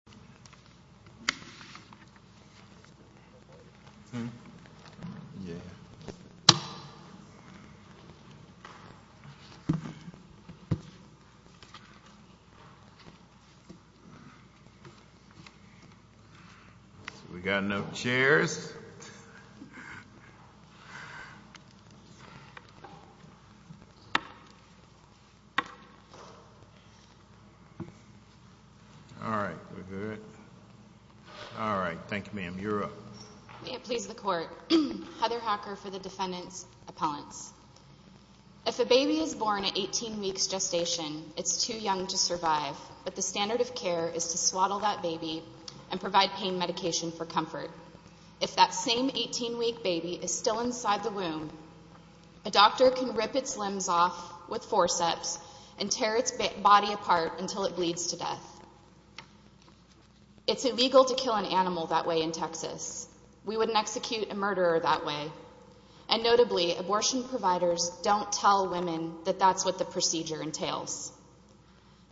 Associate Professor, the College of Educational Sciences If a baby is born at 18 weeks gestation, it is too young to survive, but the standard of care is to swaddle that baby and provide pain medication for comfort. If that same 18-week baby is still inside the womb, a doctor can rip its limbs off with It's illegal to kill an animal that way in Texas. We wouldn't execute a murderer that way. And notably, abortion providers don't tell women that that's what the procedure entails.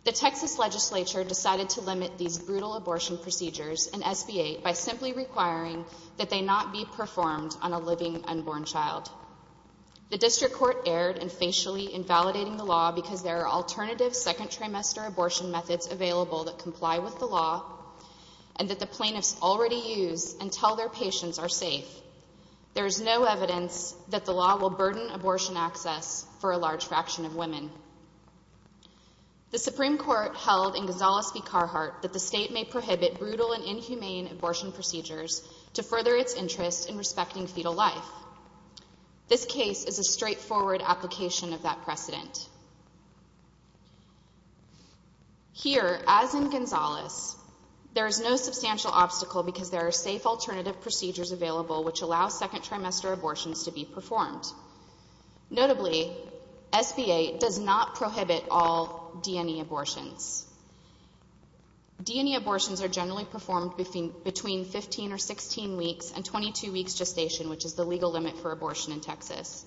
The Texas Legislature decided to limit these brutal abortion procedures and SBA by simply requiring that they not be performed on a living unborn child. The District Court erred in facially invalidating the law because there are alternative second and that the plaintiffs already use and tell their patients are safe. There is no evidence that the law will burden abortion access for a large fraction of women. The Supreme Court held in Gonzales v. Carhartt that the state may prohibit brutal and inhumane abortion procedures to further its interest in respecting fetal life. This case is a straightforward application of that precedent. Here, as in Gonzales, there is no substantial obstacle because there are safe alternative procedures available which allow second trimester abortions to be performed. Notably, SBA does not prohibit all D&E abortions. D&E abortions are generally performed between 15 or 16 weeks and 22 weeks gestation, which is the legal limit for abortion in Texas.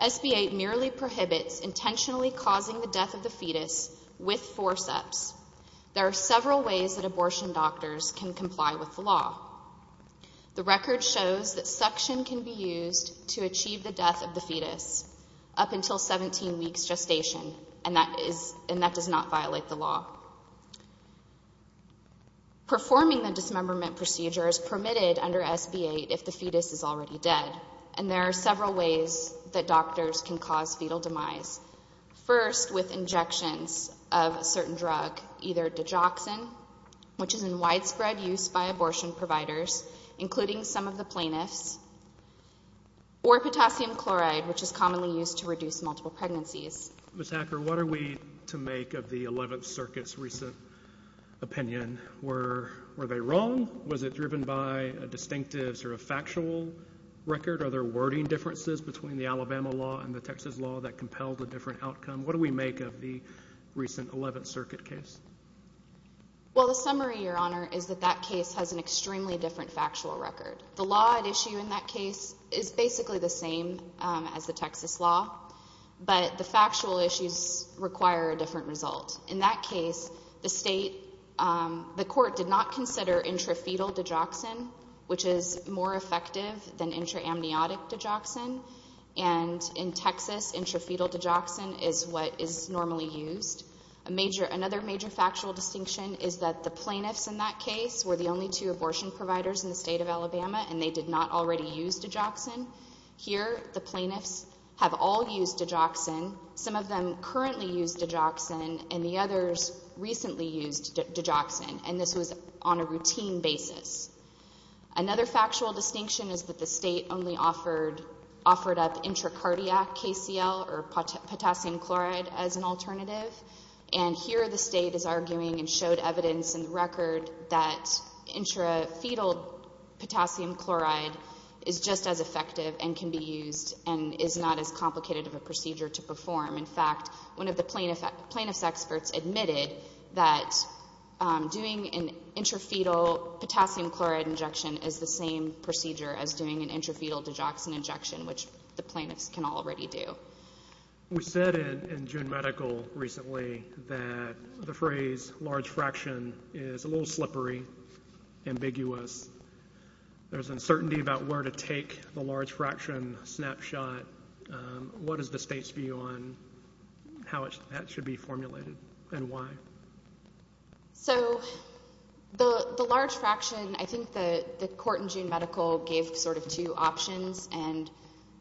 SBA merely prohibits intentionally causing the death of the fetus with forceps. There are several ways that abortion doctors can comply with the law. The record shows that suction can be used to achieve the death of the fetus up until 17 weeks gestation and that does not violate the law. Performing the dismemberment procedure is permitted under SBA if the fetus is already dead and there are several ways that doctors can cause fetal demise. First with injections of a certain drug, either digoxin, which is in widespread use by abortion providers, including some of the plaintiffs, or potassium chloride, which is commonly used to reduce multiple pregnancies. Ms. Hacker, what are we to make of the 11th Circuit's recent opinion? Were they wrong? Was it driven by a distinctive sort of factual record? Are there wording differences between the Alabama law and the Texas law that compelled a different outcome? What do we make of the recent 11th Circuit case? Well, the summary, Your Honor, is that that case has an extremely different factual record. The law at issue in that case is basically the same as the Texas law, but the factual issues require a different result. In that case, the state, the court did not consider intrafetal digoxin, which is more of a herniatic digoxin, and in Texas, intrafetal digoxin is what is normally used. Another major factual distinction is that the plaintiffs in that case were the only two abortion providers in the state of Alabama, and they did not already use digoxin. Here, the plaintiffs have all used digoxin. Some of them currently use digoxin, and the others recently used digoxin, and this was on a routine basis. Another factual distinction is that the state only offered up intracardiac KCL or potassium chloride as an alternative, and here the state is arguing and showed evidence in the record that intrafetal potassium chloride is just as effective and can be used and is not as complicated of a procedure to perform. In fact, one of the plaintiff's experts admitted that doing an intrafetal potassium chloride injection is the same procedure as doing an intrafetal digoxin injection, which the plaintiffs can already do. We said in June Medical recently that the phrase large fraction is a little slippery, ambiguous. There's uncertainty about where to take the large fraction snapshot. What is the state's view on how that should be formulated and why? So the large fraction, I think the court in June Medical gave sort of two options, and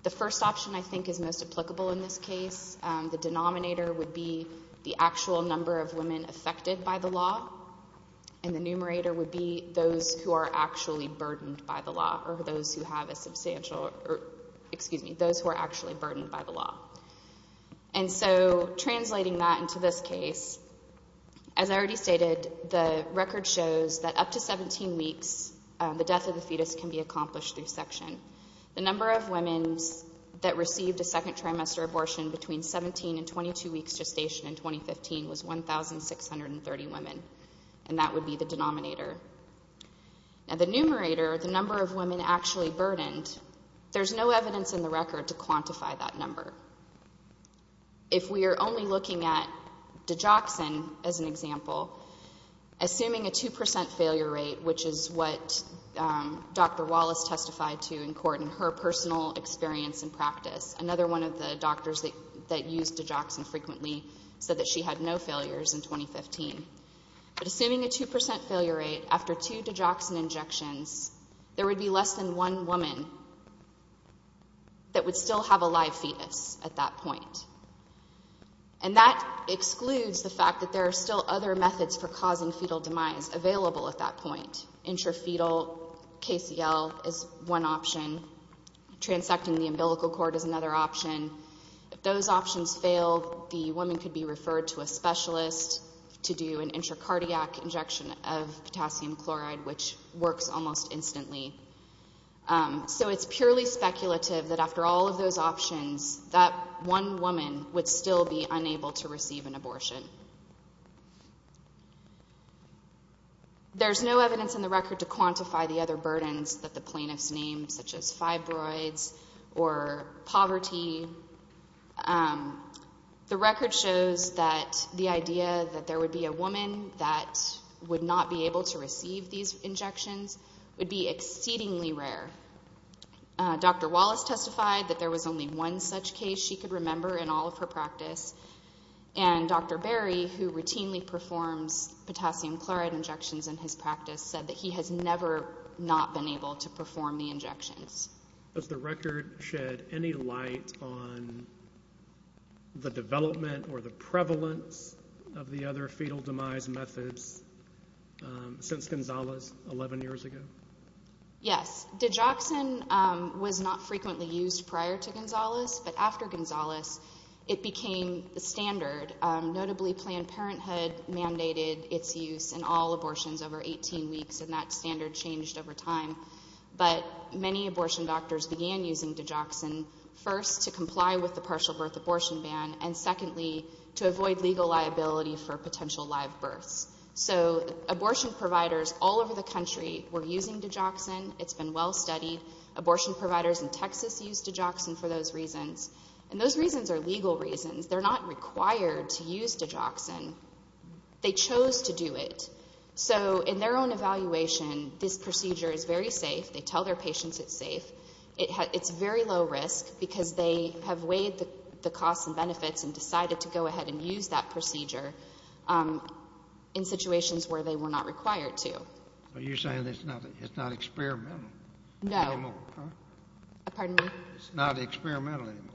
the first option I think is most applicable in this case. The denominator would be the actual number of women affected by the law, and the numerator would be those who are actually burdened by the law or those who have a substantial or, excuse me, those who are actually burdened by the law. And so translating that into this case, as I already stated, the record shows that up to 17 weeks, the death of the fetus can be accomplished through section. The number of women that received a second trimester abortion between 17 and 22 weeks of gestation in 2015 was 1,630 women, and that would be the denominator. Now the numerator, the number of women actually burdened, there's no evidence in the record to quantify that number. If we are only looking at digoxin as an example, assuming a 2% failure rate, which is what Dr. Wallace testified to in court in her personal experience and practice, another one of the said that she had no failures in 2015, but assuming a 2% failure rate after two digoxin injections, there would be less than one woman that would still have a live fetus at that point. And that excludes the fact that there are still other methods for causing fetal demise available at that point, intrafetal, KCL is one option, transecting the umbilical cord is another option, if those options fail, the woman could be referred to a specialist to do an intracardiac injection of potassium chloride, which works almost instantly. So it's purely speculative that after all of those options, that one woman would still be unable to receive an abortion. There's no evidence in the record to quantify the other burdens that the plaintiffs named, such as fibroids or poverty. The record shows that the idea that there would be a woman that would not be able to receive these injections would be exceedingly rare. Dr. Wallace testified that there was only one such case she could remember in all of her practice, and Dr. Berry, who routinely performs potassium chloride injections in his practice, said that he has never not been able to perform the injections. Does the record shed any light on the development or the prevalence of the other fetal demise methods since Gonzales 11 years ago? Yes. Digoxin was not frequently used prior to Gonzales, but after Gonzales, it became the standard. Notably, Planned Parenthood mandated its use in all abortions over 18 weeks, and that standard changed over time. But many abortion doctors began using digoxin, first, to comply with the partial birth abortion ban, and secondly, to avoid legal liability for potential live births. So abortion providers all over the country were using digoxin. It's been well studied. Abortion providers in Texas use digoxin for those reasons. And those reasons are legal reasons. They're not required to use digoxin. They chose to do it. So in their own evaluation, this procedure is very safe. They tell their patients it's safe. It's very low risk, because they have weighed the costs and benefits and decided to go ahead and use that procedure in situations where they were not required to. Are you saying it's not experimental anymore? Pardon me? It's not experimental anymore?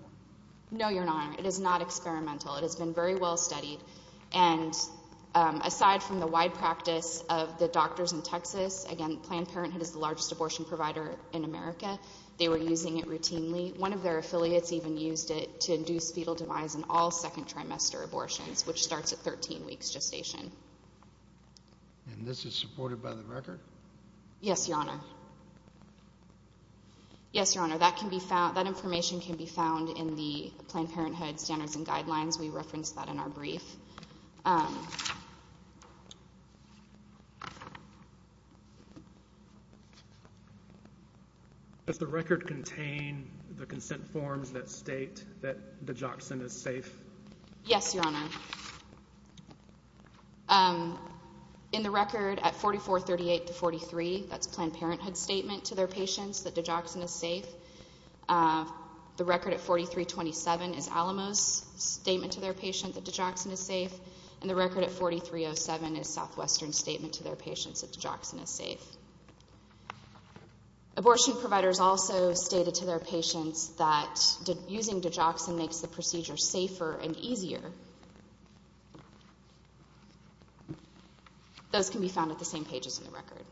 No, Your Honor. It is not experimental. It has been very well studied. And aside from the wide practice of the doctors in Texas, again, Planned Parenthood is the largest abortion provider in America. They were using it routinely. One of their affiliates even used it to induce fetal demise in all second trimester abortions, which starts at 13 weeks gestation. And this is supported by the record? Yes, Your Honor. Yes, Your Honor. That information can be found in the Planned Parenthood Standards and Guidelines. We referenced that in our brief. Does the record contain the consent forms that state that digoxin is safe? Yes, Your Honor. In the record at 4438 to 43, that's Planned Parenthood's statement to their patients that digoxin is safe. The record at 4327 is Alamo's statement to their patient that digoxin is safe, and the record at 4307 is Southwestern's statement to their patients that digoxin is safe. Abortion providers also stated to their patients that using digoxin makes the procedure safer and easier. Those can be found at the same pages in the record.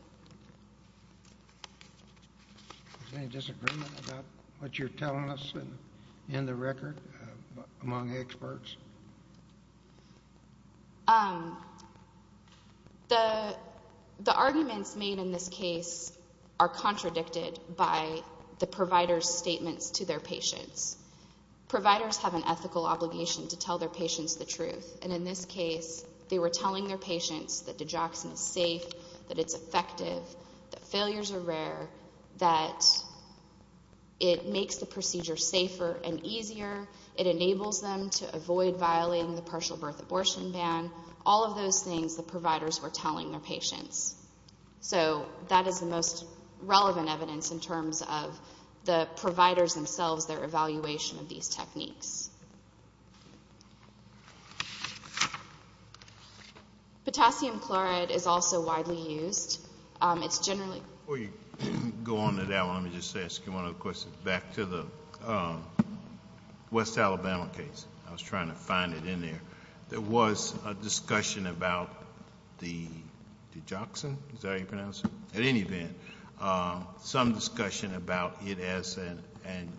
Is there any disagreement about what you're telling us in the record among experts? The arguments made in this case are contradicted by the provider's statements to their patients. Providers have an ethical obligation to tell their patients the truth, and in this case they were telling their patients that digoxin is safe, that it's effective, that failures are rare, that it makes the procedure safer and easier, it enables them to avoid violating the partial birth abortion ban, all of those things the providers were telling their patients. So that is the most relevant evidence in terms of the providers themselves, their evaluation of these techniques. Potassium chloride is also widely used. It's generally... Before you go on to that one, let me just ask you one other question, back to the West Alabama case. I was trying to find it in there. There was a discussion about the digoxin, is that how you pronounce it? At any event, some discussion about it as an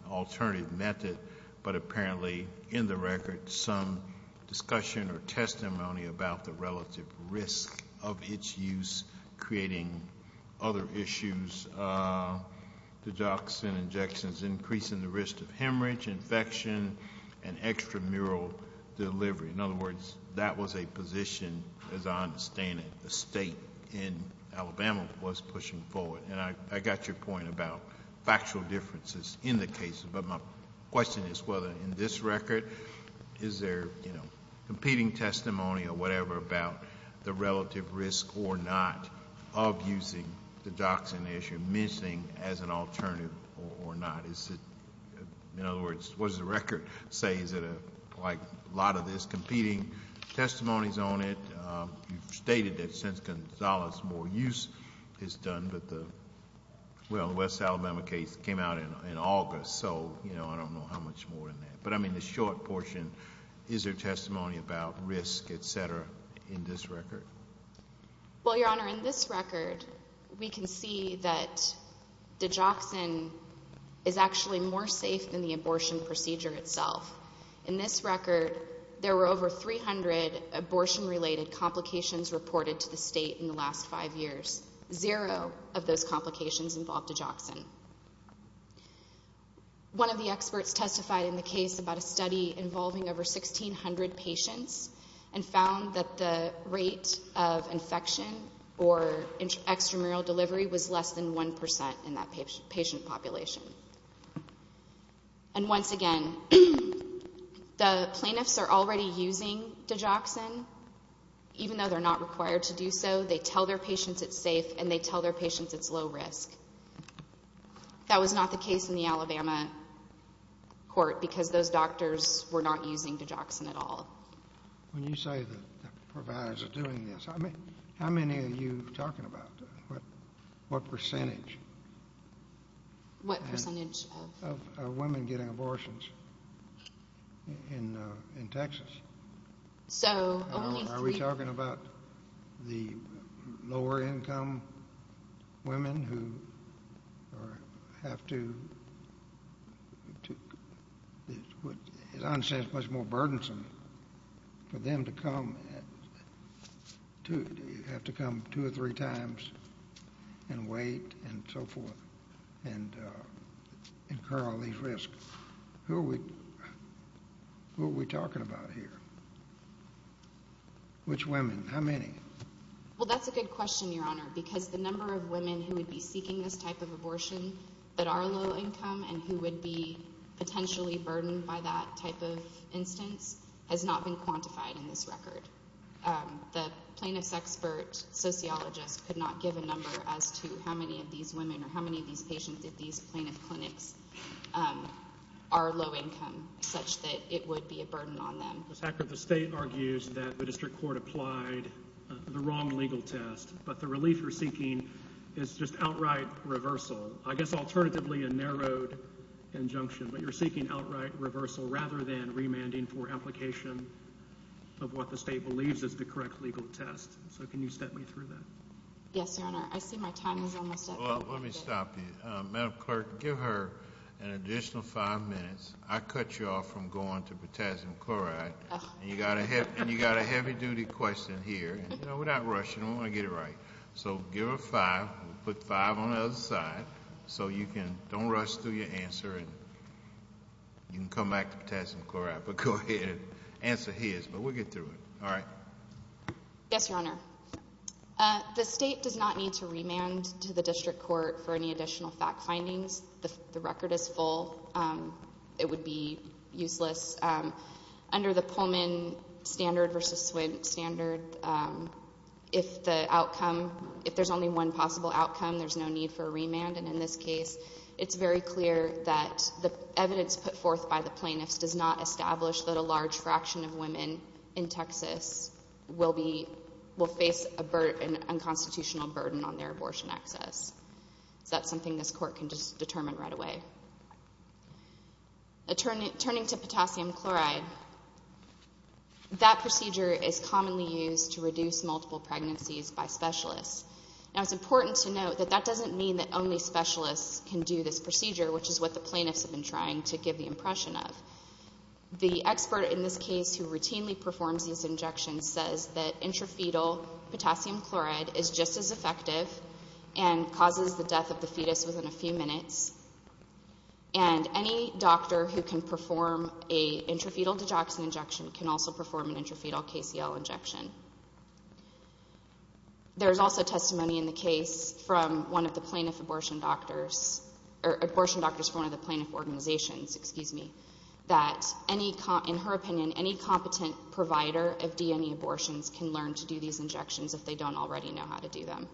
alternative method, but apparently in the record some discussion or testimony about the relative risk of its use creating other issues. Digoxin injections increasing the risk of hemorrhage, infection, and extramural delivery. In other words, that was a position, as I understand it, the state in Alabama was pushing forward. And I got your point about factual differences in the cases, but my question is whether in this record is there competing testimony or whatever about the relative risk or not of using the digoxin as you're mentioning as an alternative or not. In other words, what does the record say? Is it like a lot of this competing testimonies on it? You've stated that since Gonzales more use is done, but the West Alabama case came out in August, so I don't know how much more than that. But I mean the short portion, is there testimony about risk, et cetera, in this record? Well, Your Honor, in this record, we can see that digoxin is actually more safe than the abortion procedure itself. In this record, there were over 300 abortion-related complications reported to the state in the last five years, zero of those complications involved digoxin. One of the experts testified in the case about a study involving over 1,600 patients and found that the rate of infection or extramural delivery was less than 1% in that patient population. And once again, the plaintiffs are already using digoxin even though they're not required to do so. They tell their patients it's safe and they tell their patients it's low risk. That was not the case in the Alabama court because those doctors were not using digoxin at all. When you say the providers are doing this, how many are you talking about? What percentage? What percentage of? Of women getting abortions in Texas? So only three. Are we talking about the lower income women who have to, as I understand it, it's much more burdensome for them to come, you have to come two or three times and wait and so forth and incur all these risks. Who are we talking about here? Which women? How many? Well, that's a good question, Your Honor, because the number of women who would be seeking this type of abortion that are low income and who would be potentially burdened by that type of instance has not been quantified in this record. The plaintiff's expert sociologist could not give a number as to how many of these women or how many of these patients at these plaintiff clinics are low income such that it would be a burden on them. Ms. Hacker, the state argues that the district court applied the wrong legal test, but the relief you're seeking is just outright reversal. I guess alternatively a narrowed injunction, but you're seeking outright reversal rather than remanding for application of what the state believes is the correct legal test. So can you step me through that? Yes, Your Honor. I see my time is almost up. Well, let me stop you. Madam Clerk, give her an additional five minutes. I cut you off from going to potassium chloride and you got a heavy-duty question here. You know, we're not rushing. We want to get it right. So give her five. We'll put five on the other side. So you can, don't rush through your answer and you can come back to potassium chloride, but go ahead and answer his, but we'll get through it. All right? Yes, Your Honor. The state does not need to remand to the district court for any additional fact findings. The record is full. It would be useless. Under the Pullman standard versus Swint standard, if the outcome, if there's only one possible outcome, there's no need for a remand, and in this case, it's very clear that the evidence put forth by the plaintiffs does not establish that a large fraction of women in Texas will be, will face a burden, an unconstitutional burden on their abortion access. So that's something this court can just determine right away. Turning to potassium chloride, that procedure is commonly used to reduce multiple pregnancies by specialists. Now, it's important to note that that doesn't mean that only specialists can do this procedure, which is what the plaintiffs have been trying to give the impression of. The expert in this case who routinely performs these injections says that intrafetal potassium chloride is just as effective and causes the death of the fetus within a few minutes, and any doctor who can perform a intrafetal digoxin injection can also perform an intrafetal KCL injection. There is also testimony in the case from one of the plaintiff abortion doctors, or abortion doctors from one of the plaintiff organizations, excuse me, that any, in her opinion, any competent provider of DNA abortions can learn to do these injections if they don't already know how to do them.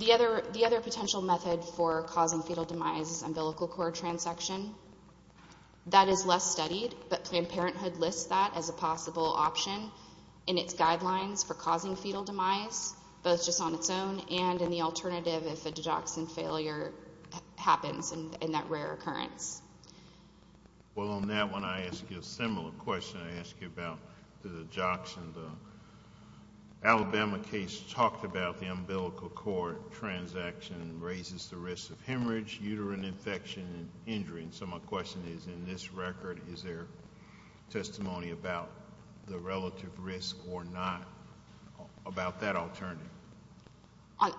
The other, the other potential method for causing fetal demise is umbilical cord transection. That is less studied, but Planned Parenthood lists that as a possible option in its guidelines for causing fetal demise, both just on its own and in the alternative if a digoxin failure happens in that rare occurrence. Well, on that one, I ask you a similar question. I ask you about the digoxin. The Alabama case talked about the umbilical cord transection raises the risk of hemorrhage, uterine infection, and injury. So my question is, in this record, is there testimony about the relative risk or not about that alternative?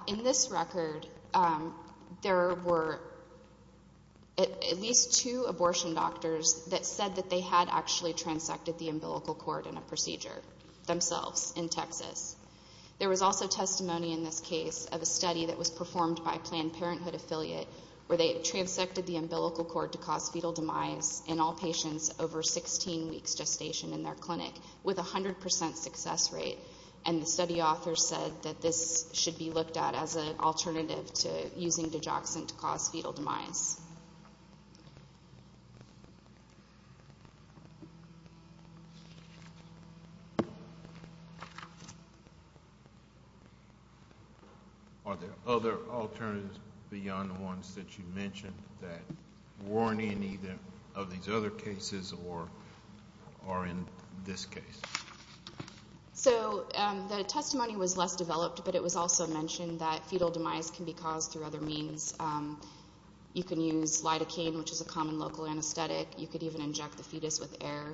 In this record, there were at least two abortion doctors that said that they had actually transected the umbilical cord in a procedure themselves in Texas. There was also testimony in this case of a study that was performed by a Planned Parenthood affiliate where they transected the umbilical cord to cause fetal demise in all patients over 16 weeks gestation in their clinic with a 100% success rate, and the study author said that this should be looked at as an alternative to using digoxin to cause fetal demise. Are there other alternatives beyond the ones that you mentioned that weren't in either of these other cases or are in this case? So the testimony was less developed, but it was also mentioned that fetal demise can be caused through other means. You can use lidocaine, which is a common local anesthetic. You could even inject the fetus with air.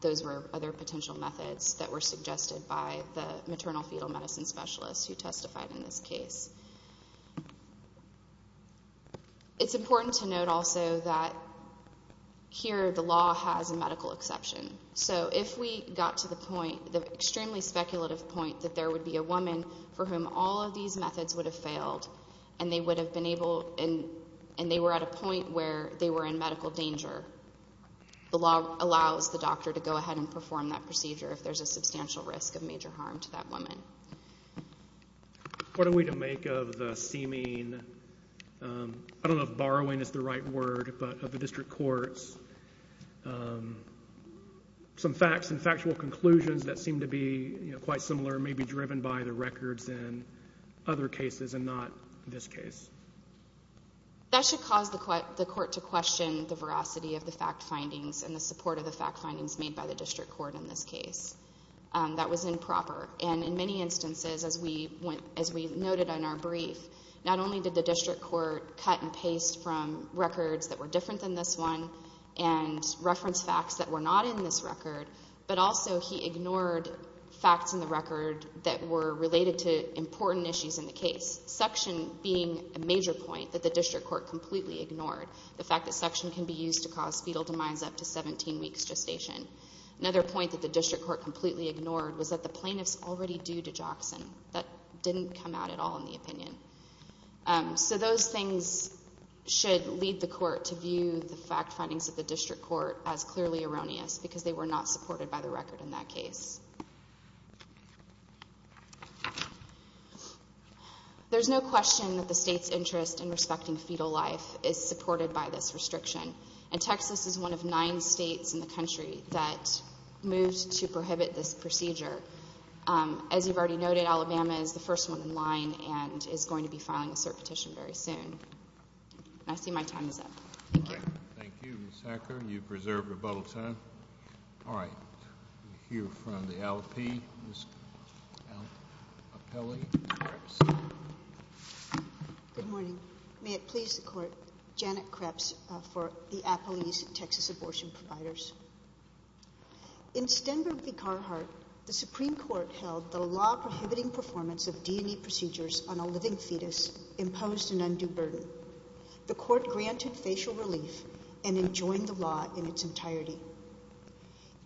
Those were other potential methods that were suggested by the maternal fetal medicine specialist who testified in this case. It's important to note also that here the law has a medical exception. So if we got to the point, the extremely speculative point, that there would be a woman for whom all of these methods would have failed and they were at a point where they were in medical danger, the law allows the doctor to go ahead and perform that procedure if there's a substantial risk of major harm to that woman. What are we to make of the seeming, I don't know if borrowing is the right word, but of the district courts, some facts and factual conclusions that seem to be quite similar may be driven by the records in other cases and not this case. That should cause the court to question the veracity of the fact findings and the support of the fact findings made by the district court in this case. That was improper. And in many instances, as we noted in our brief, not only did the district court cut and paste from records that were different than this one and reference facts that were not in this record, but also he ignored facts in the record that were related to important issues in the case, suction being a major point that the district court completely ignored, the fact that suction can be used to cause fetal demise up to 17 weeks gestation. Another point that the district court completely ignored was that the plaintiffs already due to Jackson. That didn't come out at all in the opinion. So those things should lead the court to view the fact findings of the district court as clearly erroneous because they were not supported by the record in that case. There's no question that the state's interest in respecting fetal life is supported by this restriction. And Texas is one of nine states in the country that moved to prohibit this procedure. As you've already noted, Alabama is the first one in line and is going to be filing a cert petition very soon. I see my time is up. Thank you. Thank you, Ms. Hacker. You've preserved rebuttal time. All right. We hear from the LP, Ms. Apelli Kreps. Good morning. May it please the court, Janet Kreps for the Apple East Texas Abortion Providers. In Stenberg v. Carhart, the Supreme Court held the law prohibiting performance of D&E procedures on a living fetus imposed an undue burden. The court granted facial relief and enjoined the law in its entirety.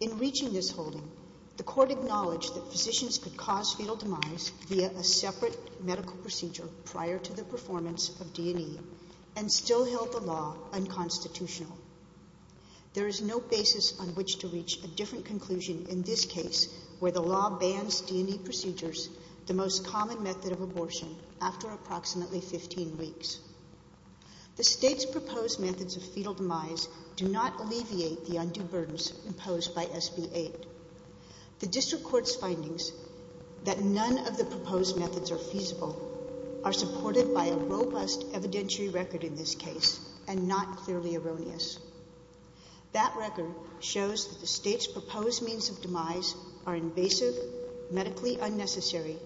In reaching this holding, the court acknowledged that physicians could cause fetal demise via a separate medical procedure prior to the performance of D&E and still held the law unconstitutional. There is no basis on which to reach a different conclusion in this case where the law bans D&E procedures, the most common method of abortion, after approximately 15 weeks. The state's proposed methods of fetal demise do not alleviate the undue burdens imposed by SB 8. The district court's findings that none of the proposed methods are feasible are supported by a robust evidentiary record in this case and not clearly erroneous. That record shows that the state's proposed means of demise are invasive, medically unnecessary,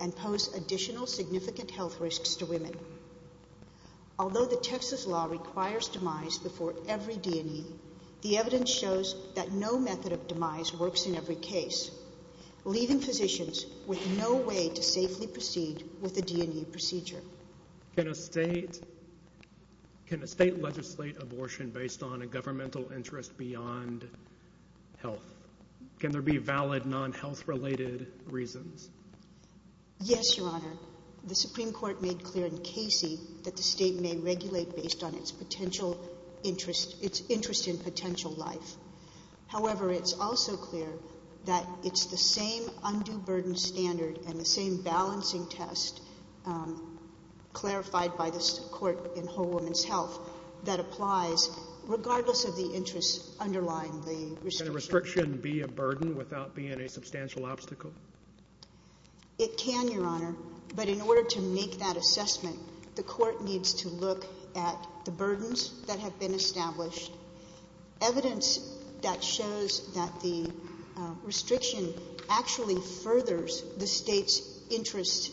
and pose additional significant health risks to women. Although the Texas law requires demise before every D&E, the evidence shows that no method of demise works in every case, leaving physicians with no way to safely proceed with a D&E procedure. Can a state legislate abortion based on a governmental interest beyond health? Can there be valid non-health-related reasons? Yes, Your Honor. The Supreme Court made clear in Casey that the state may regulate based on its interest in potential life. However, it's also clear that it's the same undue burden standard and the same balancing test clarified by this court in Whole Woman's Health that applies regardless of the interests underlying the restriction. Can a restriction be a burden without being a substantial obstacle? It can, Your Honor, but in order to make that assessment, the court needs to look at the burdens that have been established, evidence that shows that the restriction actually furthers the state's interests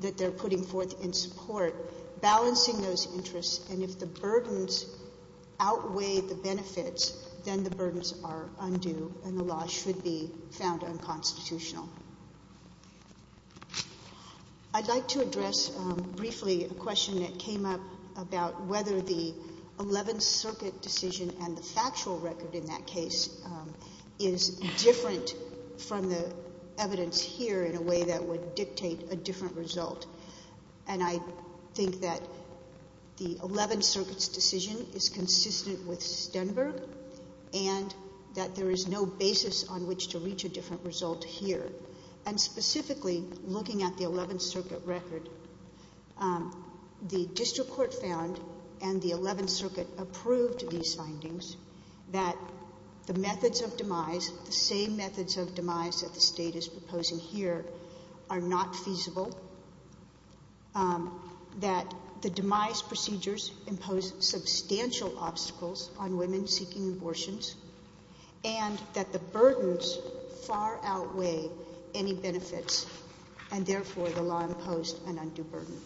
that they're putting forth in support, balancing those interests, and if the burdens outweigh the benefits, then the burdens are undue and the law should be found unconstitutional. I'd like to address briefly a question that came up about whether the Eleventh Circuit decision and the factual record in that case is different from the evidence here in a way that would dictate a different result, and I think that the Eleventh Circuit's decision is consistent with Stenberg and that there is no basis on which to reach a different result here, and specifically, looking at the Eleventh Circuit record, the district court found, and the Eleventh Circuit approved these findings, that the methods of demise, the same methods of demise that the state is proposing here, are not feasible, that the demise procedures impose substantial obstacles on women seeking abortions, and that the burdens far outweigh any benefits, and therefore, the law imposed an undue burden.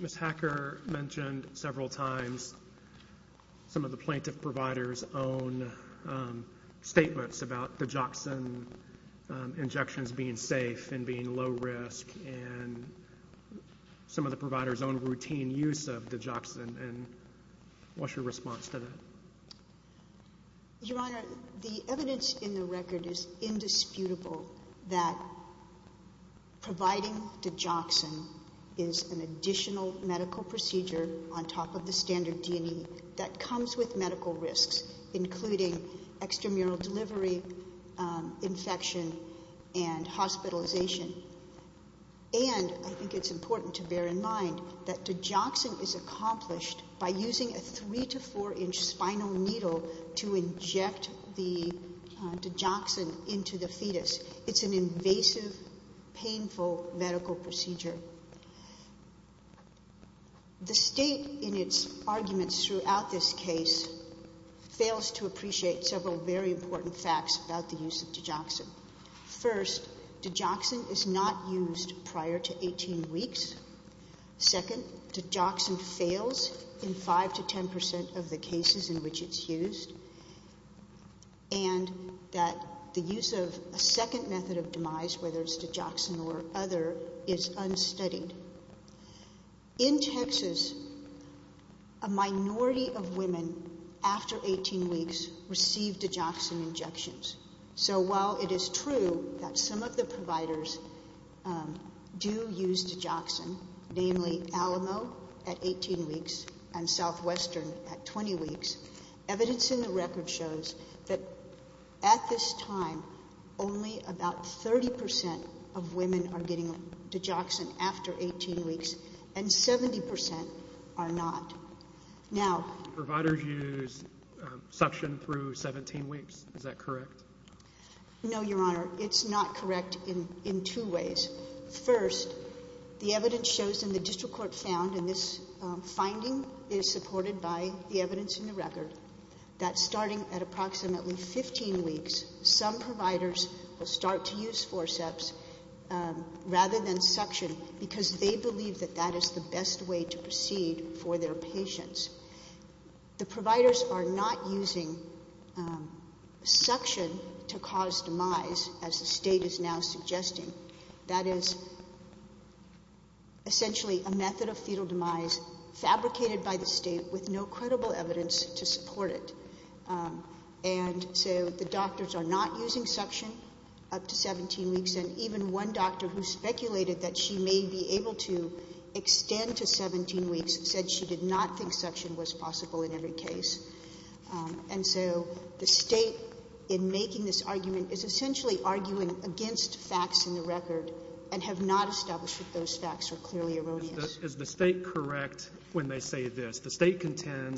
Ms. Hacker mentioned several times some of the plaintiff provider's own statements about digoxin injections being safe and being low risk, and some of the provider's own routine use of digoxin, and what's your response to that? Your Honor, the evidence in the record is indisputable that providing digoxin is not an additional medical procedure on top of the standard D&E that comes with medical risks, including extramural delivery, infection, and hospitalization, and I think it's important to bear in mind that digoxin is accomplished by using a three to four inch spinal needle to inject the digoxin into the fetus. It's an invasive, painful medical procedure, and the state, in its arguments throughout this case, fails to appreciate several very important facts about the use of digoxin. First, digoxin is not used prior to 18 weeks. Second, digoxin fails in 5 to 10% of the cases in which it's used, and that the use of a second method of demise, whether it's digoxin or other, is unstudied. In Texas, a minority of women after 18 weeks received digoxin injections, so while it is true that some of the providers do use digoxin, namely Alamo at 18 weeks and Southwestern at 20 weeks, evidence in the court found that 30% of women are getting digoxin after 18 weeks, and 70% are not. Now, providers use suction through 17 weeks, is that correct? No, Your Honor, it's not correct in two ways. First, the evidence shows in the district court found, and this finding is supported by the evidence in the record, that starting at approximately 15 weeks, some providers use forceps rather than suction because they believe that that is the best way to proceed for their patients. The providers are not using suction to cause demise, as the State is now suggesting. That is essentially a method of fetal demise fabricated by the State with no credible evidence to support it, and so the doctors are not using suction up to 17 weeks, and even one doctor who speculated that she may be able to extend to 17 weeks said she did not think suction was possible in every case, and so the State, in making this argument, is essentially arguing against facts in the record and have not established that those facts are clearly erroneous. Is the State correct when they say this? The State is relying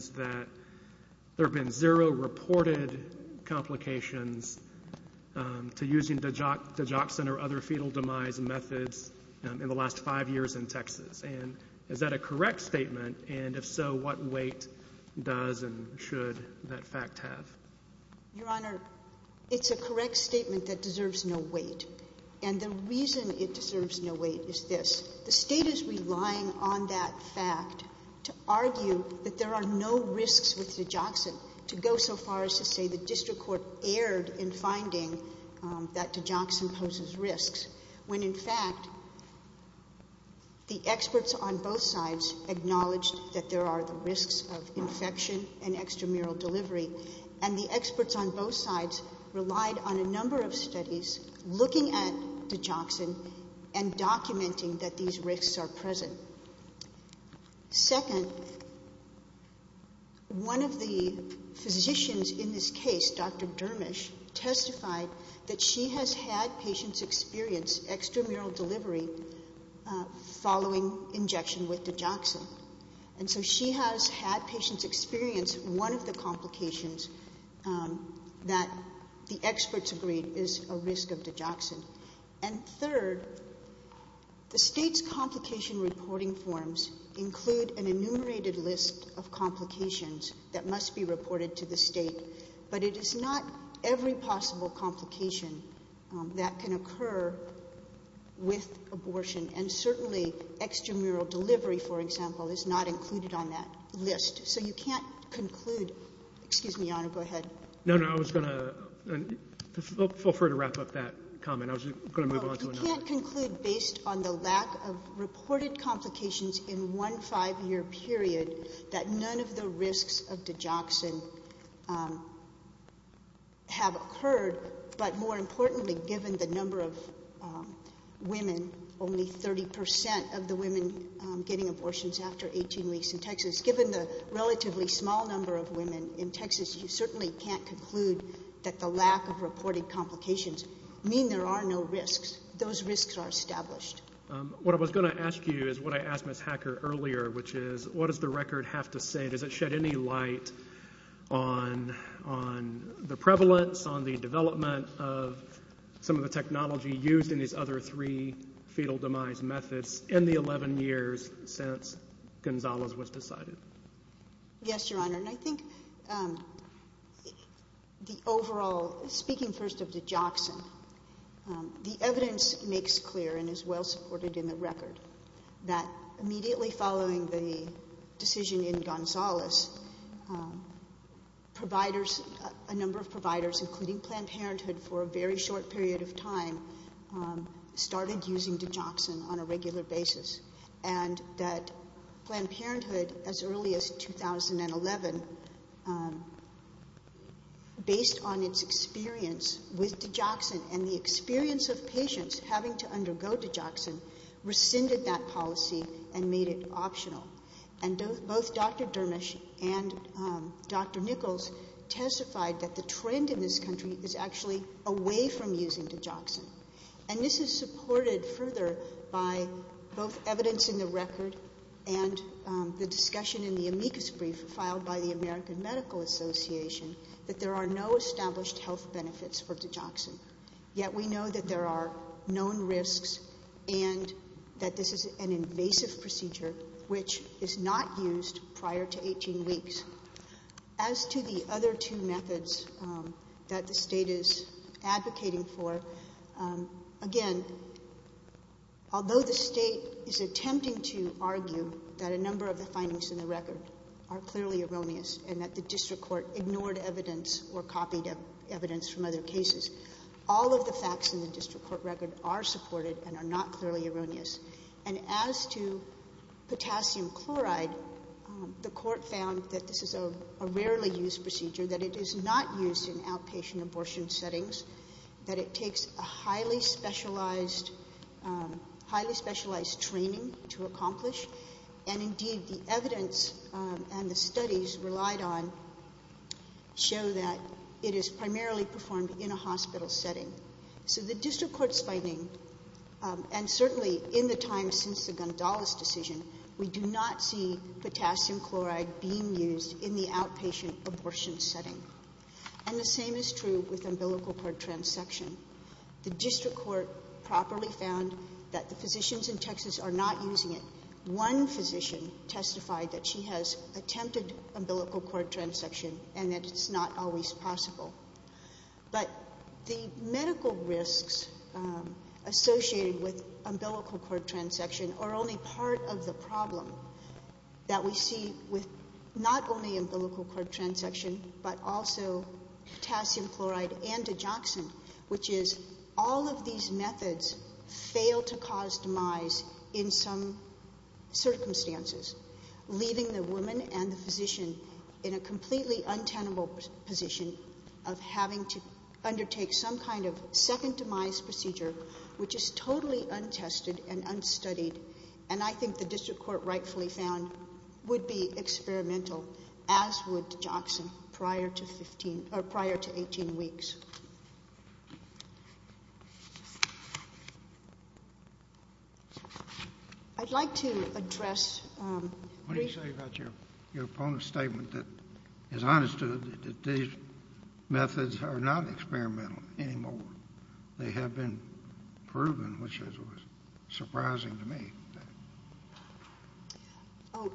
on that fact to argue that there are no risks with digoxin to go so far as to say the district court erred in finding that digoxin poses risks when, in fact, the experts on both sides acknowledged that there are the risks of infection and extramural delivery, and the experts on both sides relied on a number of studies looking at digoxin and documenting that these risks are present. Second, one of the physicians in this case Dr. Dermish testified that she has had patients experience extramural delivery following injection with digoxin, and so she has had patients experience one of the complications that the experts agreed is a risk of digoxin. And third, the State's complication reporting forms include an enumerated list of complications that must be reported to the State, but it is not every possible complication that can occur with abortion, and certainly extramural delivery, for example, is not included on that list. So you can't conclude, excuse me, Your Honor, go ahead. No, no, I was going to feel free to wrap up that comment. I was going to move on to another. You can't conclude based on the lack of reported complications in one five-year period that none of the risks of digoxin have occurred, but more importantly, given the number of women, only 30% of the women getting abortions after 18 weeks in Texas, given the relatively small number of women in Texas, you certainly can't conclude that the lack of reported complications mean there are no risks. Those risks are established. What I was going to ask you is what I asked Ms. Hacker earlier, which is, what does the record have to say? Does it shed any light on the prevalence, on the development of some of the technology used in these other three fetal demise methods in the 11 years since Gonzales was decided? Yes, Your Honor, and I think the overall, speaking first of digoxin, the evidence makes clear and is well supported in the record that immediately following the decision in Gonzales, providers, a number of providers, including Planned Parenthood, for a very short period of time, started using digoxin on a regular basis, and that Planned Parenthood, as early as 2011, based on its experience with digoxin and the experience of patients having to undergo digoxin, rescinded that policy and made it optional. Both Dr. Dermish and Dr. Nichols testified that the trend in this country is actually away from using digoxin, and this is supported further by both evidence in the record and the discussion in the amicus brief filed by the American Medical Association that there are no established health benefits for digoxin, yet we know that there are known risks and that this is an invasive procedure which is not used prior to 18 weeks. As to the other two methods that the State is advocating for, again, although the State is attempting to argue that a number of the findings in the record are clearly erroneous and that the District Court ignored evidence or copied evidence from other cases, all of the facts in the District Court record are supported and are not clearly erroneous. And as to potassium chloride, the Court found that this is a rarely used procedure, that it is not used in outpatient abortion settings, that it takes a highly specialized training to accomplish, and indeed the evidence and the studies relied on show that it is primarily performed in a hospital setting. So the District Court's finding, and certainly in the time since the Gondolas decision, we do not see potassium chloride being used in the outpatient abortion setting. And the same is true with umbilical cord transection. The District Court properly found that the physicians in Texas are not using it. One physician testified that she has attempted umbilical cord transection and that it's not always possible. But the medical risks associated with umbilical cord transection are only part of the problem that we see with not only umbilical cord transection, but also potassium chloride and digoxin, which is all of these methods fail to cause demise in some circumstances, leaving the woman and the physician in a completely untenable position of having to undertake some kind of second demise procedure, which is totally untested and unstudied. And I think the District Court rightfully found would be experimental, as would digoxin, prior to 15, or prior to 18 weeks. I'd like to address um... What do you say about your opponent's statement that, as I understood it, that these methods are not experimental anymore. They have been proven, which is surprising to me. Oh,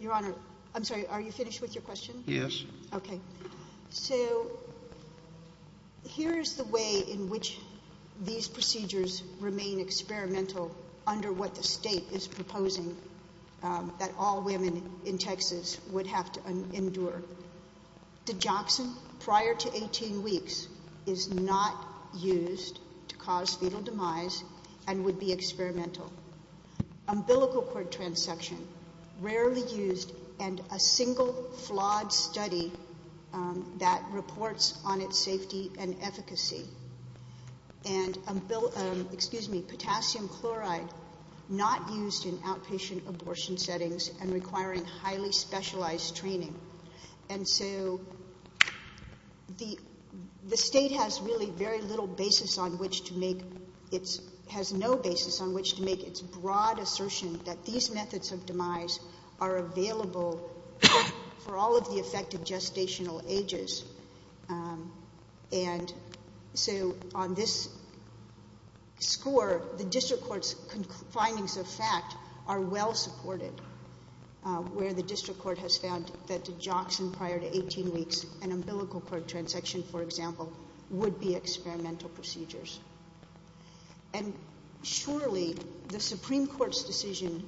Your Honor, I'm sorry, are you finished with your question? Yes. Okay. So, here's the way in which these procedures remain experimental under what the State is proposing that all women in Texas would have to endure. Digoxin, prior to 18 weeks, is not used to cause fetal demise and would be experimental. Umbilical cord transection, rarely used in a single flawed study that reports on its safety and efficacy. And potassium chloride, not used in outpatient abortion settings and requiring highly specialized training. And so, the State has really very little basis on which to make its broad assertion that these methods of demise are available for all of the affected gestational ages. And so, on this score, the District Court's findings of fact are well supported, where the District Court has found that digoxin, prior to 18 weeks, and umbilical cord transection, for example, would be experimental procedures. And surely, the Supreme Court's decision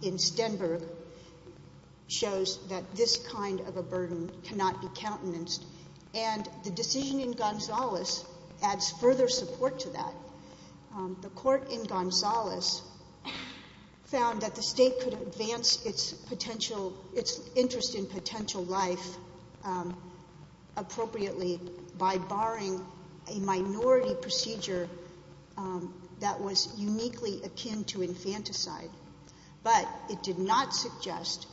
in Stenberg shows that this kind of a burden cannot be countenanced. And the decision in Gonzales adds further support to that. The State could advance its potential, its interest in potential life appropriately by barring a minority procedure that was uniquely akin to infanticide. But it did not suggest,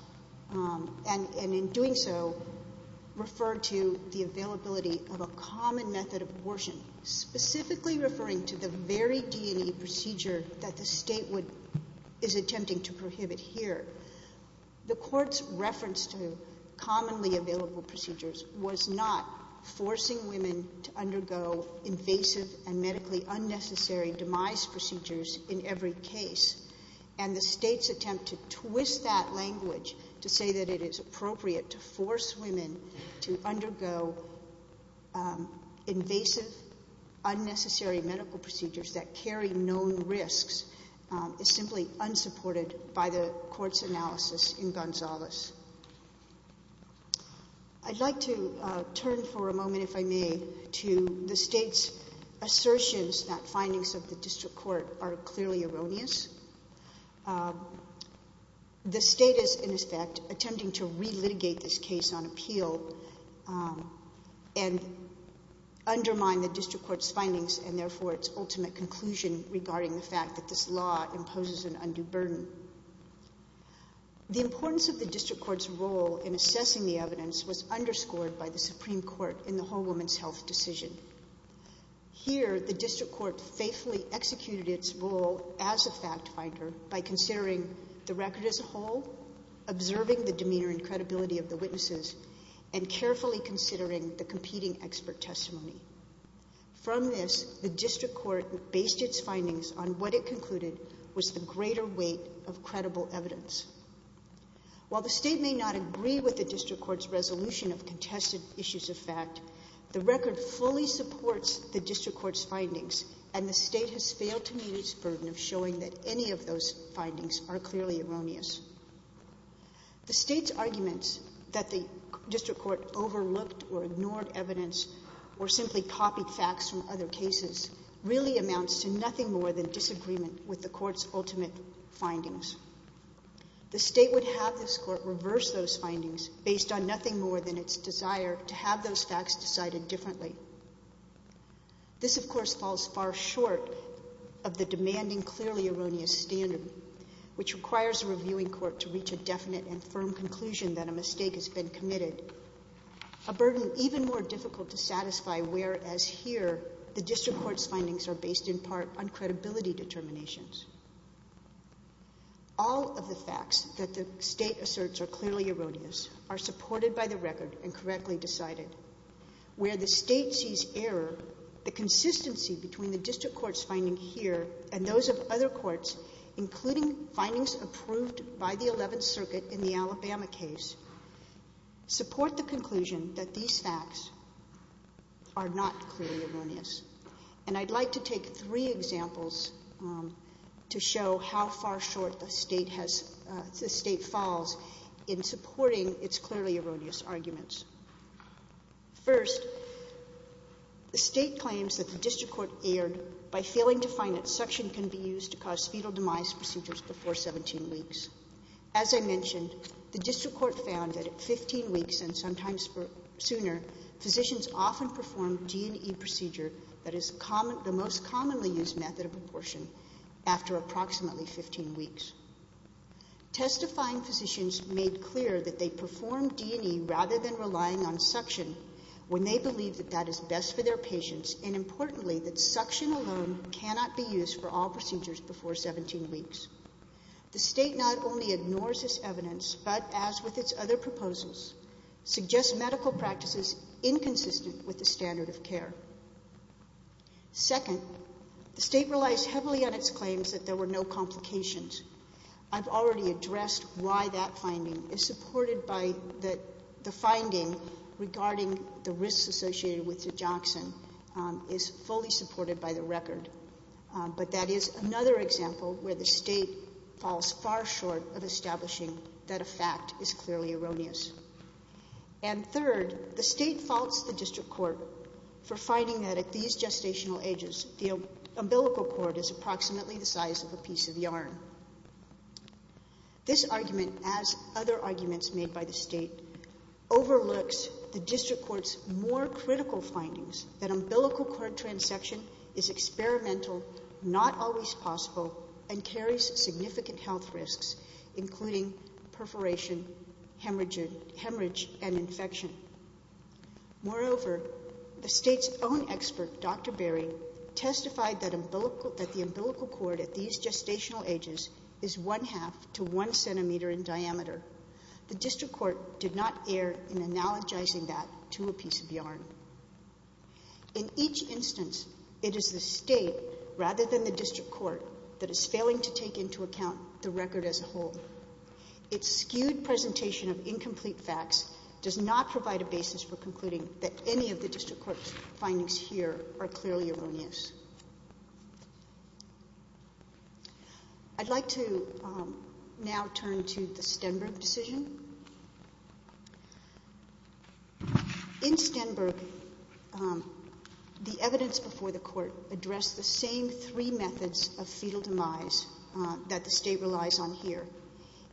and in doing so, refer to the availability of a common method of abortion, specifically referring to the very D&E procedure that the State is attempting to prohibit here. The Court's reference to commonly available procedures was not forcing women to undergo invasive and medically unnecessary demise procedures in every case. And the State's attempt to twist that language to say that it is appropriate to force women to undergo invasive, unnecessary medical procedures that carry known risks is simply unsupported by the Court's analysis in Gonzales. I'd like to turn for a moment, if I may, to the State's assertions that findings of the District Court are clearly erroneous. The State is, in effect, attempting to re-litigate this case on appeal and undermine the District Court's findings and therefore its ultimate conclusion regarding the fact that this law imposes an undue burden. The importance of the District Court's role in assessing the evidence was underscored by the Supreme Court in the Whole Woman's Health decision. Here, the District Court faithfully executed its role as a fact finder by considering the record as a whole, observing the demeanor and credibility of the witnesses, and carefully considering the competing expert testimony. From this, the District Court based its findings on what it concluded was the greater weight of credible evidence. While the State may not agree with the District Court's resolution of contested issues of fact, the record fully supports the District Court's findings and the State has failed to meet its burden of showing that any of those findings are clearly erroneous. The State's arguments that the District Court overlooked or ignored evidence or simply copied facts from other cases really amounts to nothing more than disagreement with the Court's ultimate findings. The State would have this Court reverse those findings based on nothing more than its desire to have those facts decided differently. This, of course, falls far short of the demanding, clearly erroneous standard, which requires a reviewing court to reach a definite and firm conclusion that a mistake has been committed, a burden even more difficult to satisfy, whereas here, the District Court's findings are based in part on credibility determinations. All of the facts that the State asserts are clearly erroneous are supported by the record and correctly decided. Where the State sees error, the consistency between the District Court's finding here and those of other courts, including findings approved by the Eleventh Circuit in the Alabama case, support the conclusion that these facts are not clearly erroneous. And I'd like to take three examples to show how far short the State has, the State falls in supporting its clearly erroneous arguments. First, the State claims that the District Court erred by failing to find that suction can be used to cause fetal demise procedures before 17 weeks. As I mentioned, the District Court found that at 15 weeks and sometimes sooner, physicians often perform D&E procedure that is the most commonly used method of abortion after approximately 15 weeks. Testifying physicians made clear that they perform D&E rather than relying on suction when they believe that that is best for their fetus. Importantly, that suction alone cannot be used for all procedures before 17 weeks. The State not only ignores this evidence, but as with its other proposals, suggests medical practices inconsistent with the standard of care. Second, the State relies heavily on its claims that there were no complications. I've already addressed why that finding is fully supported by the record, but that is another example where the State falls far short of establishing that a fact is clearly erroneous. And third, the State faults the District Court for finding that at these gestational ages, the umbilical cord is approximately the size of a piece of yarn. This argument, as other arguments made by the State, overlooks the District Court's more critical findings that umbilical cord transection is experimental, not always possible, and carries significant health risks, including perforation, hemorrhage, and infection. Moreover, the State's own expert, Dr. Berry, testified that the umbilical cord at these gestational ages is one-half to one centimeter in diameter. The District Court did not err in analogizing that to a piece of yarn. In each instance, it is the State, rather than the District Court, that is failing to take into account the record as a whole. Its skewed presentation of incomplete facts does not provide a basis for concluding that any of the District Court's findings here are clearly erroneous. I'd like to now turn to the Stenberg decision. In Stenberg, the evidence before the Court addressed the same three methods of fetal demise that the State relies on here,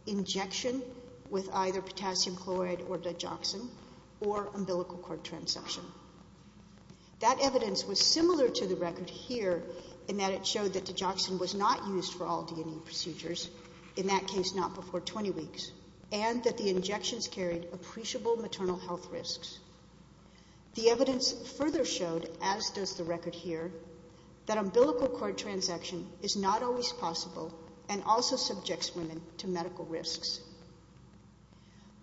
injection with either potassium chloride or digoxin, or umbilical cord transection. That evidence was similar to the record here in that it showed that digoxin was not used for all D&E procedures, in that case not before 20 weeks, and that the injections carried appreciable maternal health risks. The evidence further showed, as does the record here, that umbilical cord transection is not always possible and also subjects women to medical risks.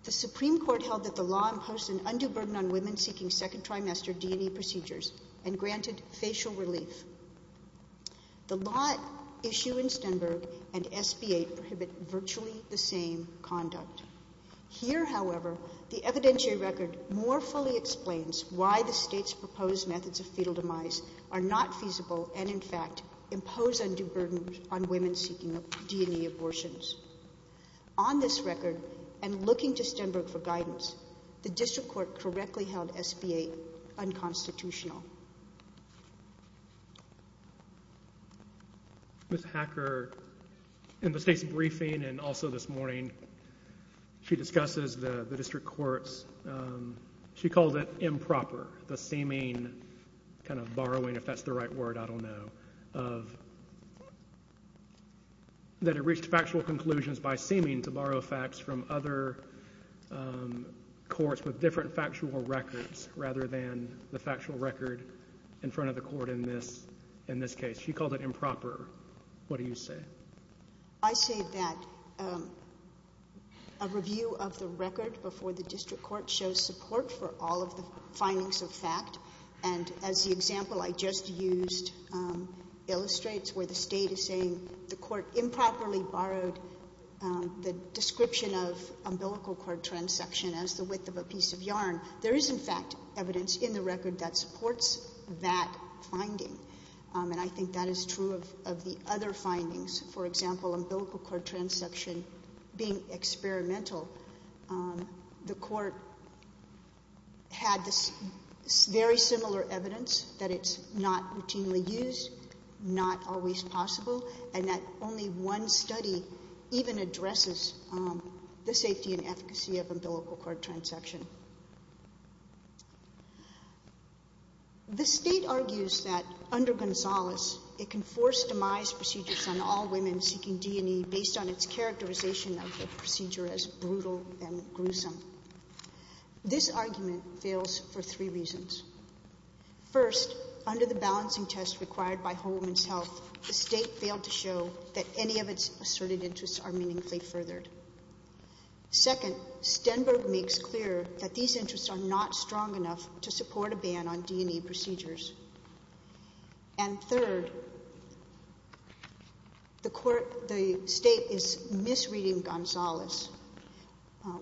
The Supreme Court held that the law imposed an undue burden on women seeking second trimester D&E procedures and granted facial relief. The law issue in Stenberg and SB-8 prohibit virtually the same conduct. Here, however, the evidentiary record more fully explains why the State's proposed methods of fetal demise are not feasible and, in fact, impose undue burden on women seeking D&E abortions. On this record, and looking to Stenberg for guidance, the District Court correctly held SB-8 unconstitutional. Ms. Hacker, in the State's briefing and also this morning, she discusses the District Court's, um, she called it improper, the sameane kind of borrowing, if that's the right word, I don't know, of, that it reached factual conclusions by sameane to borrow facts from other, um, courts with different factual records rather than the factual record in front of the court in this, in this case. She called it improper. What do you say? I say that, um, a review of the record before the District Court shows support for all of the findings of fact. And as the example I just used, um, illustrates where the State is saying the court improperly borrowed, um, the description of umbilical cord transsection as the width of a piece of yarn. There is, in fact, evidence in the record that supports that finding. Um, and I think that is true of, of the other findings. For example, umbilical cord transsection being experimental, um, the court had this very similar evidence that it's not routinely used, not always possible, and that only one study even addresses, um, the safety and efficacy of umbilical cord transsection. The State argues that under Gonzales, it can force demise procedures on all women seeking D&E based on its characterization of the procedure as brutal and gruesome. This argument fails for three reasons. First, under the balancing test required by Home Women's Health, the State failed to show that any of its asserted interests are meaningfully furthered. Second, Stenberg makes clear that these interests are not strong enough to support a ban on D&E procedures. And third, the court, the State is misreading Gonzales,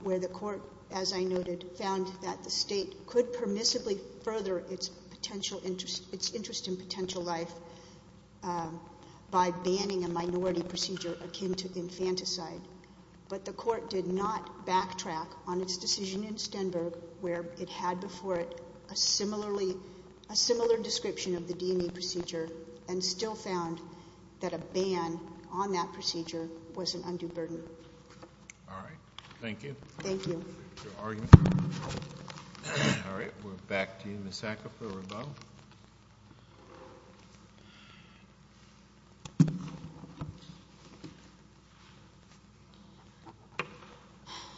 where the court, as I noted, found that the State could permissibly further its potential interest, its interest in potential life, um, by banning a minority procedure akin to infanticide. But the court did not similarly, a similar description of the D&E procedure and still found that a ban on that procedure was an undue burden. All right. Thank you. Thank you. All right. We're back to you, Ms. Sackofer-Rebeau. Thank you.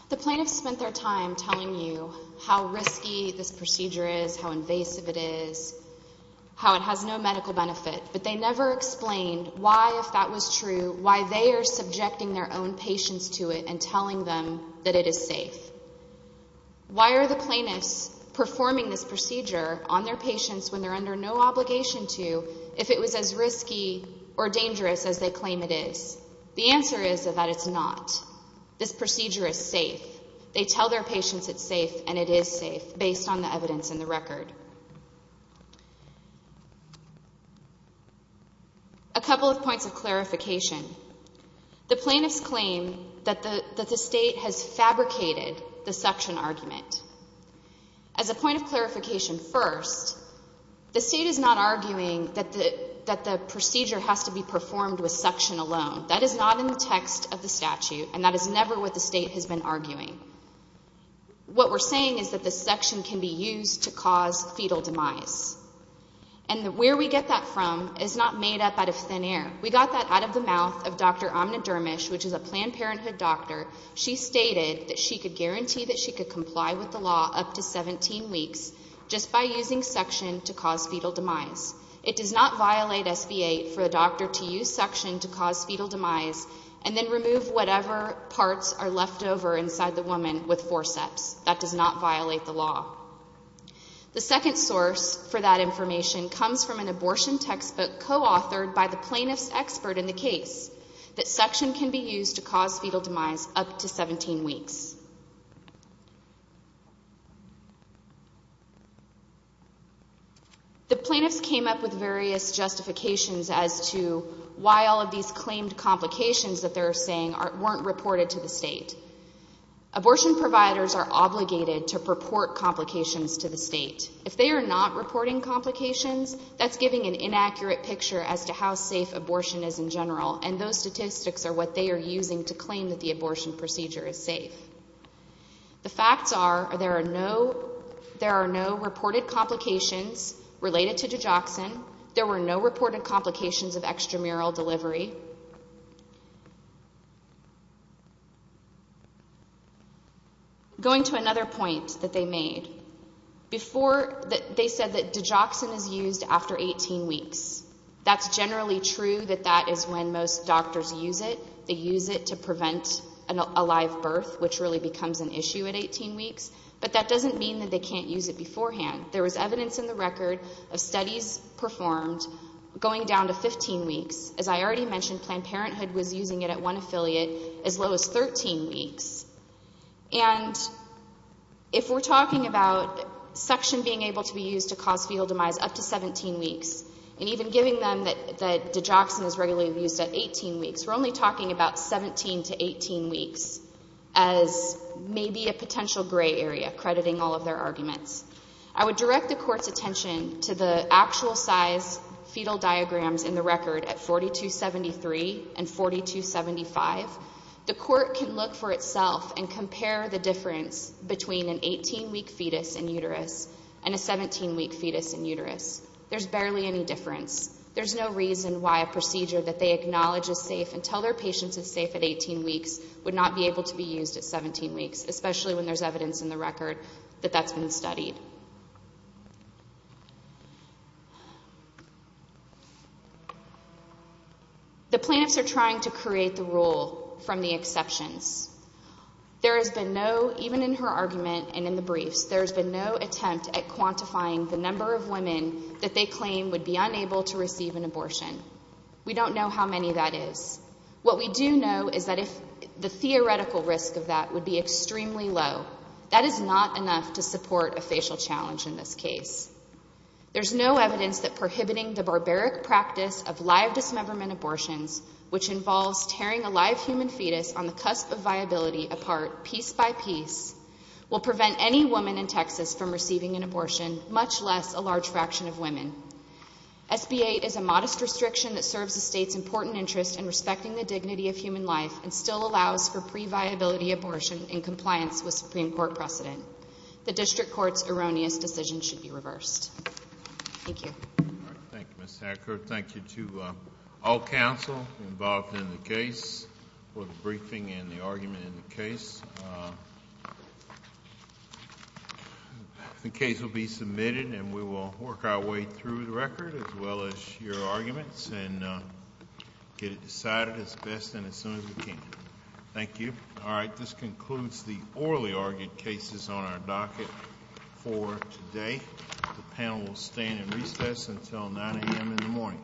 The plaintiffs spent their time telling you how risky this procedure is, how invasive it is, how it has no medical benefit, but they never explained why, if that was true, why they are subjecting their own patients to it and telling them that it is safe. Why are the plaintiffs performing this procedure on their patients when they're under no obligation to if it was as risky or dangerous as they claim it is? The answer is that it's not. This procedure is safe. They tell their patients it's safe and it is safe based on the evidence in the record. A couple of points of clarification. The plaintiffs claim that the State has fabricated the suction argument. As a point of clarification first, the State is not arguing that the procedure has to be performed with suction alone. That is not in the text of the statute and that is never what the State has been arguing. What we're saying is that the suction can be used to cause fetal demise. And where we get that from is not made up out of thin air. We got that out of the mouth of Dr. Amna Dermish, which is a law up to 17 weeks just by using suction to cause fetal demise. It does not violate SB 8 for a doctor to use suction to cause fetal demise and then remove whatever parts are left over inside the woman with forceps. That does not violate the law. The second source for that information comes from an abortion textbook co-authored by the plaintiff's expert in the case that suction can be used to cause fetal demise up to 17 weeks. The plaintiffs came up with various justifications as to why all of these claimed complications that they're saying weren't reported to the State. Abortion providers are obligated to report complications to the State. If they are not reporting complications, that's giving an inaccurate picture as to how safe the abortion procedure is safe. The facts are there are no reported complications related to digoxin. There were no reported complications of extramural delivery. Going to another point that they made, they said that digoxin is used after 18 weeks. That's generally true that that is when most doctors use it. They use it to cause a live birth, which really becomes an issue at 18 weeks. But that doesn't mean that they can't use it beforehand. There was evidence in the record of studies performed going down to 15 weeks. As I already mentioned, Planned Parenthood was using it at one affiliate as low as 13 weeks. And if we're talking about suction being able to be used to cause fetal demise up to 17 weeks and even giving them that digoxin is regularly used at 18 weeks, we're only talking about 17 to 18 weeks as maybe a potential gray area, crediting all of their arguments. I would direct the Court's attention to the actual size fetal diagrams in the record at 4273 and 4275. The Court can look for itself and compare the difference between an 18-week fetus and uterus and a 17-week fetus and uterus. There's barely any difference. There's no reason why a procedure that they acknowledge is safe until their patient is safe at 18 weeks would not be able to be used at 17 weeks, especially when there's evidence in the record that that's been studied. The plaintiffs are trying to create the rule from the exceptions. There has been no, even in her argument and in the record, there has been no evidence that the number of women that they claim would be unable to receive an abortion. We don't know how many that is. What we do know is that if the theoretical risk of that would be extremely low, that is not enough to support a facial challenge in this case. There's no evidence that prohibiting the barbaric practice of live dismemberment abortions, which involves tearing a live human fetus on the cusp of viability apart piece by piece, will prevent any woman in Texas from receiving an abortion, much less a large fraction of women. SB 8 is a modest restriction that serves the state's important interest in respecting the dignity of human life and still allows for pre-viability abortion in compliance with Supreme Court precedent. The District Court's erroneous decision should be reversed. Thank you. All right. Thank you, Ms. Hacker. Thank you to all counsel involved in the case for the briefing and the argument in the case. The case will be submitted and we will work our way through the record as well as your arguments and get it decided as best and as soon as we can. Thank you. All right. This concludes the orally argued cases on our docket for today. The panel will stand in recess until 9 a.m. in the morning.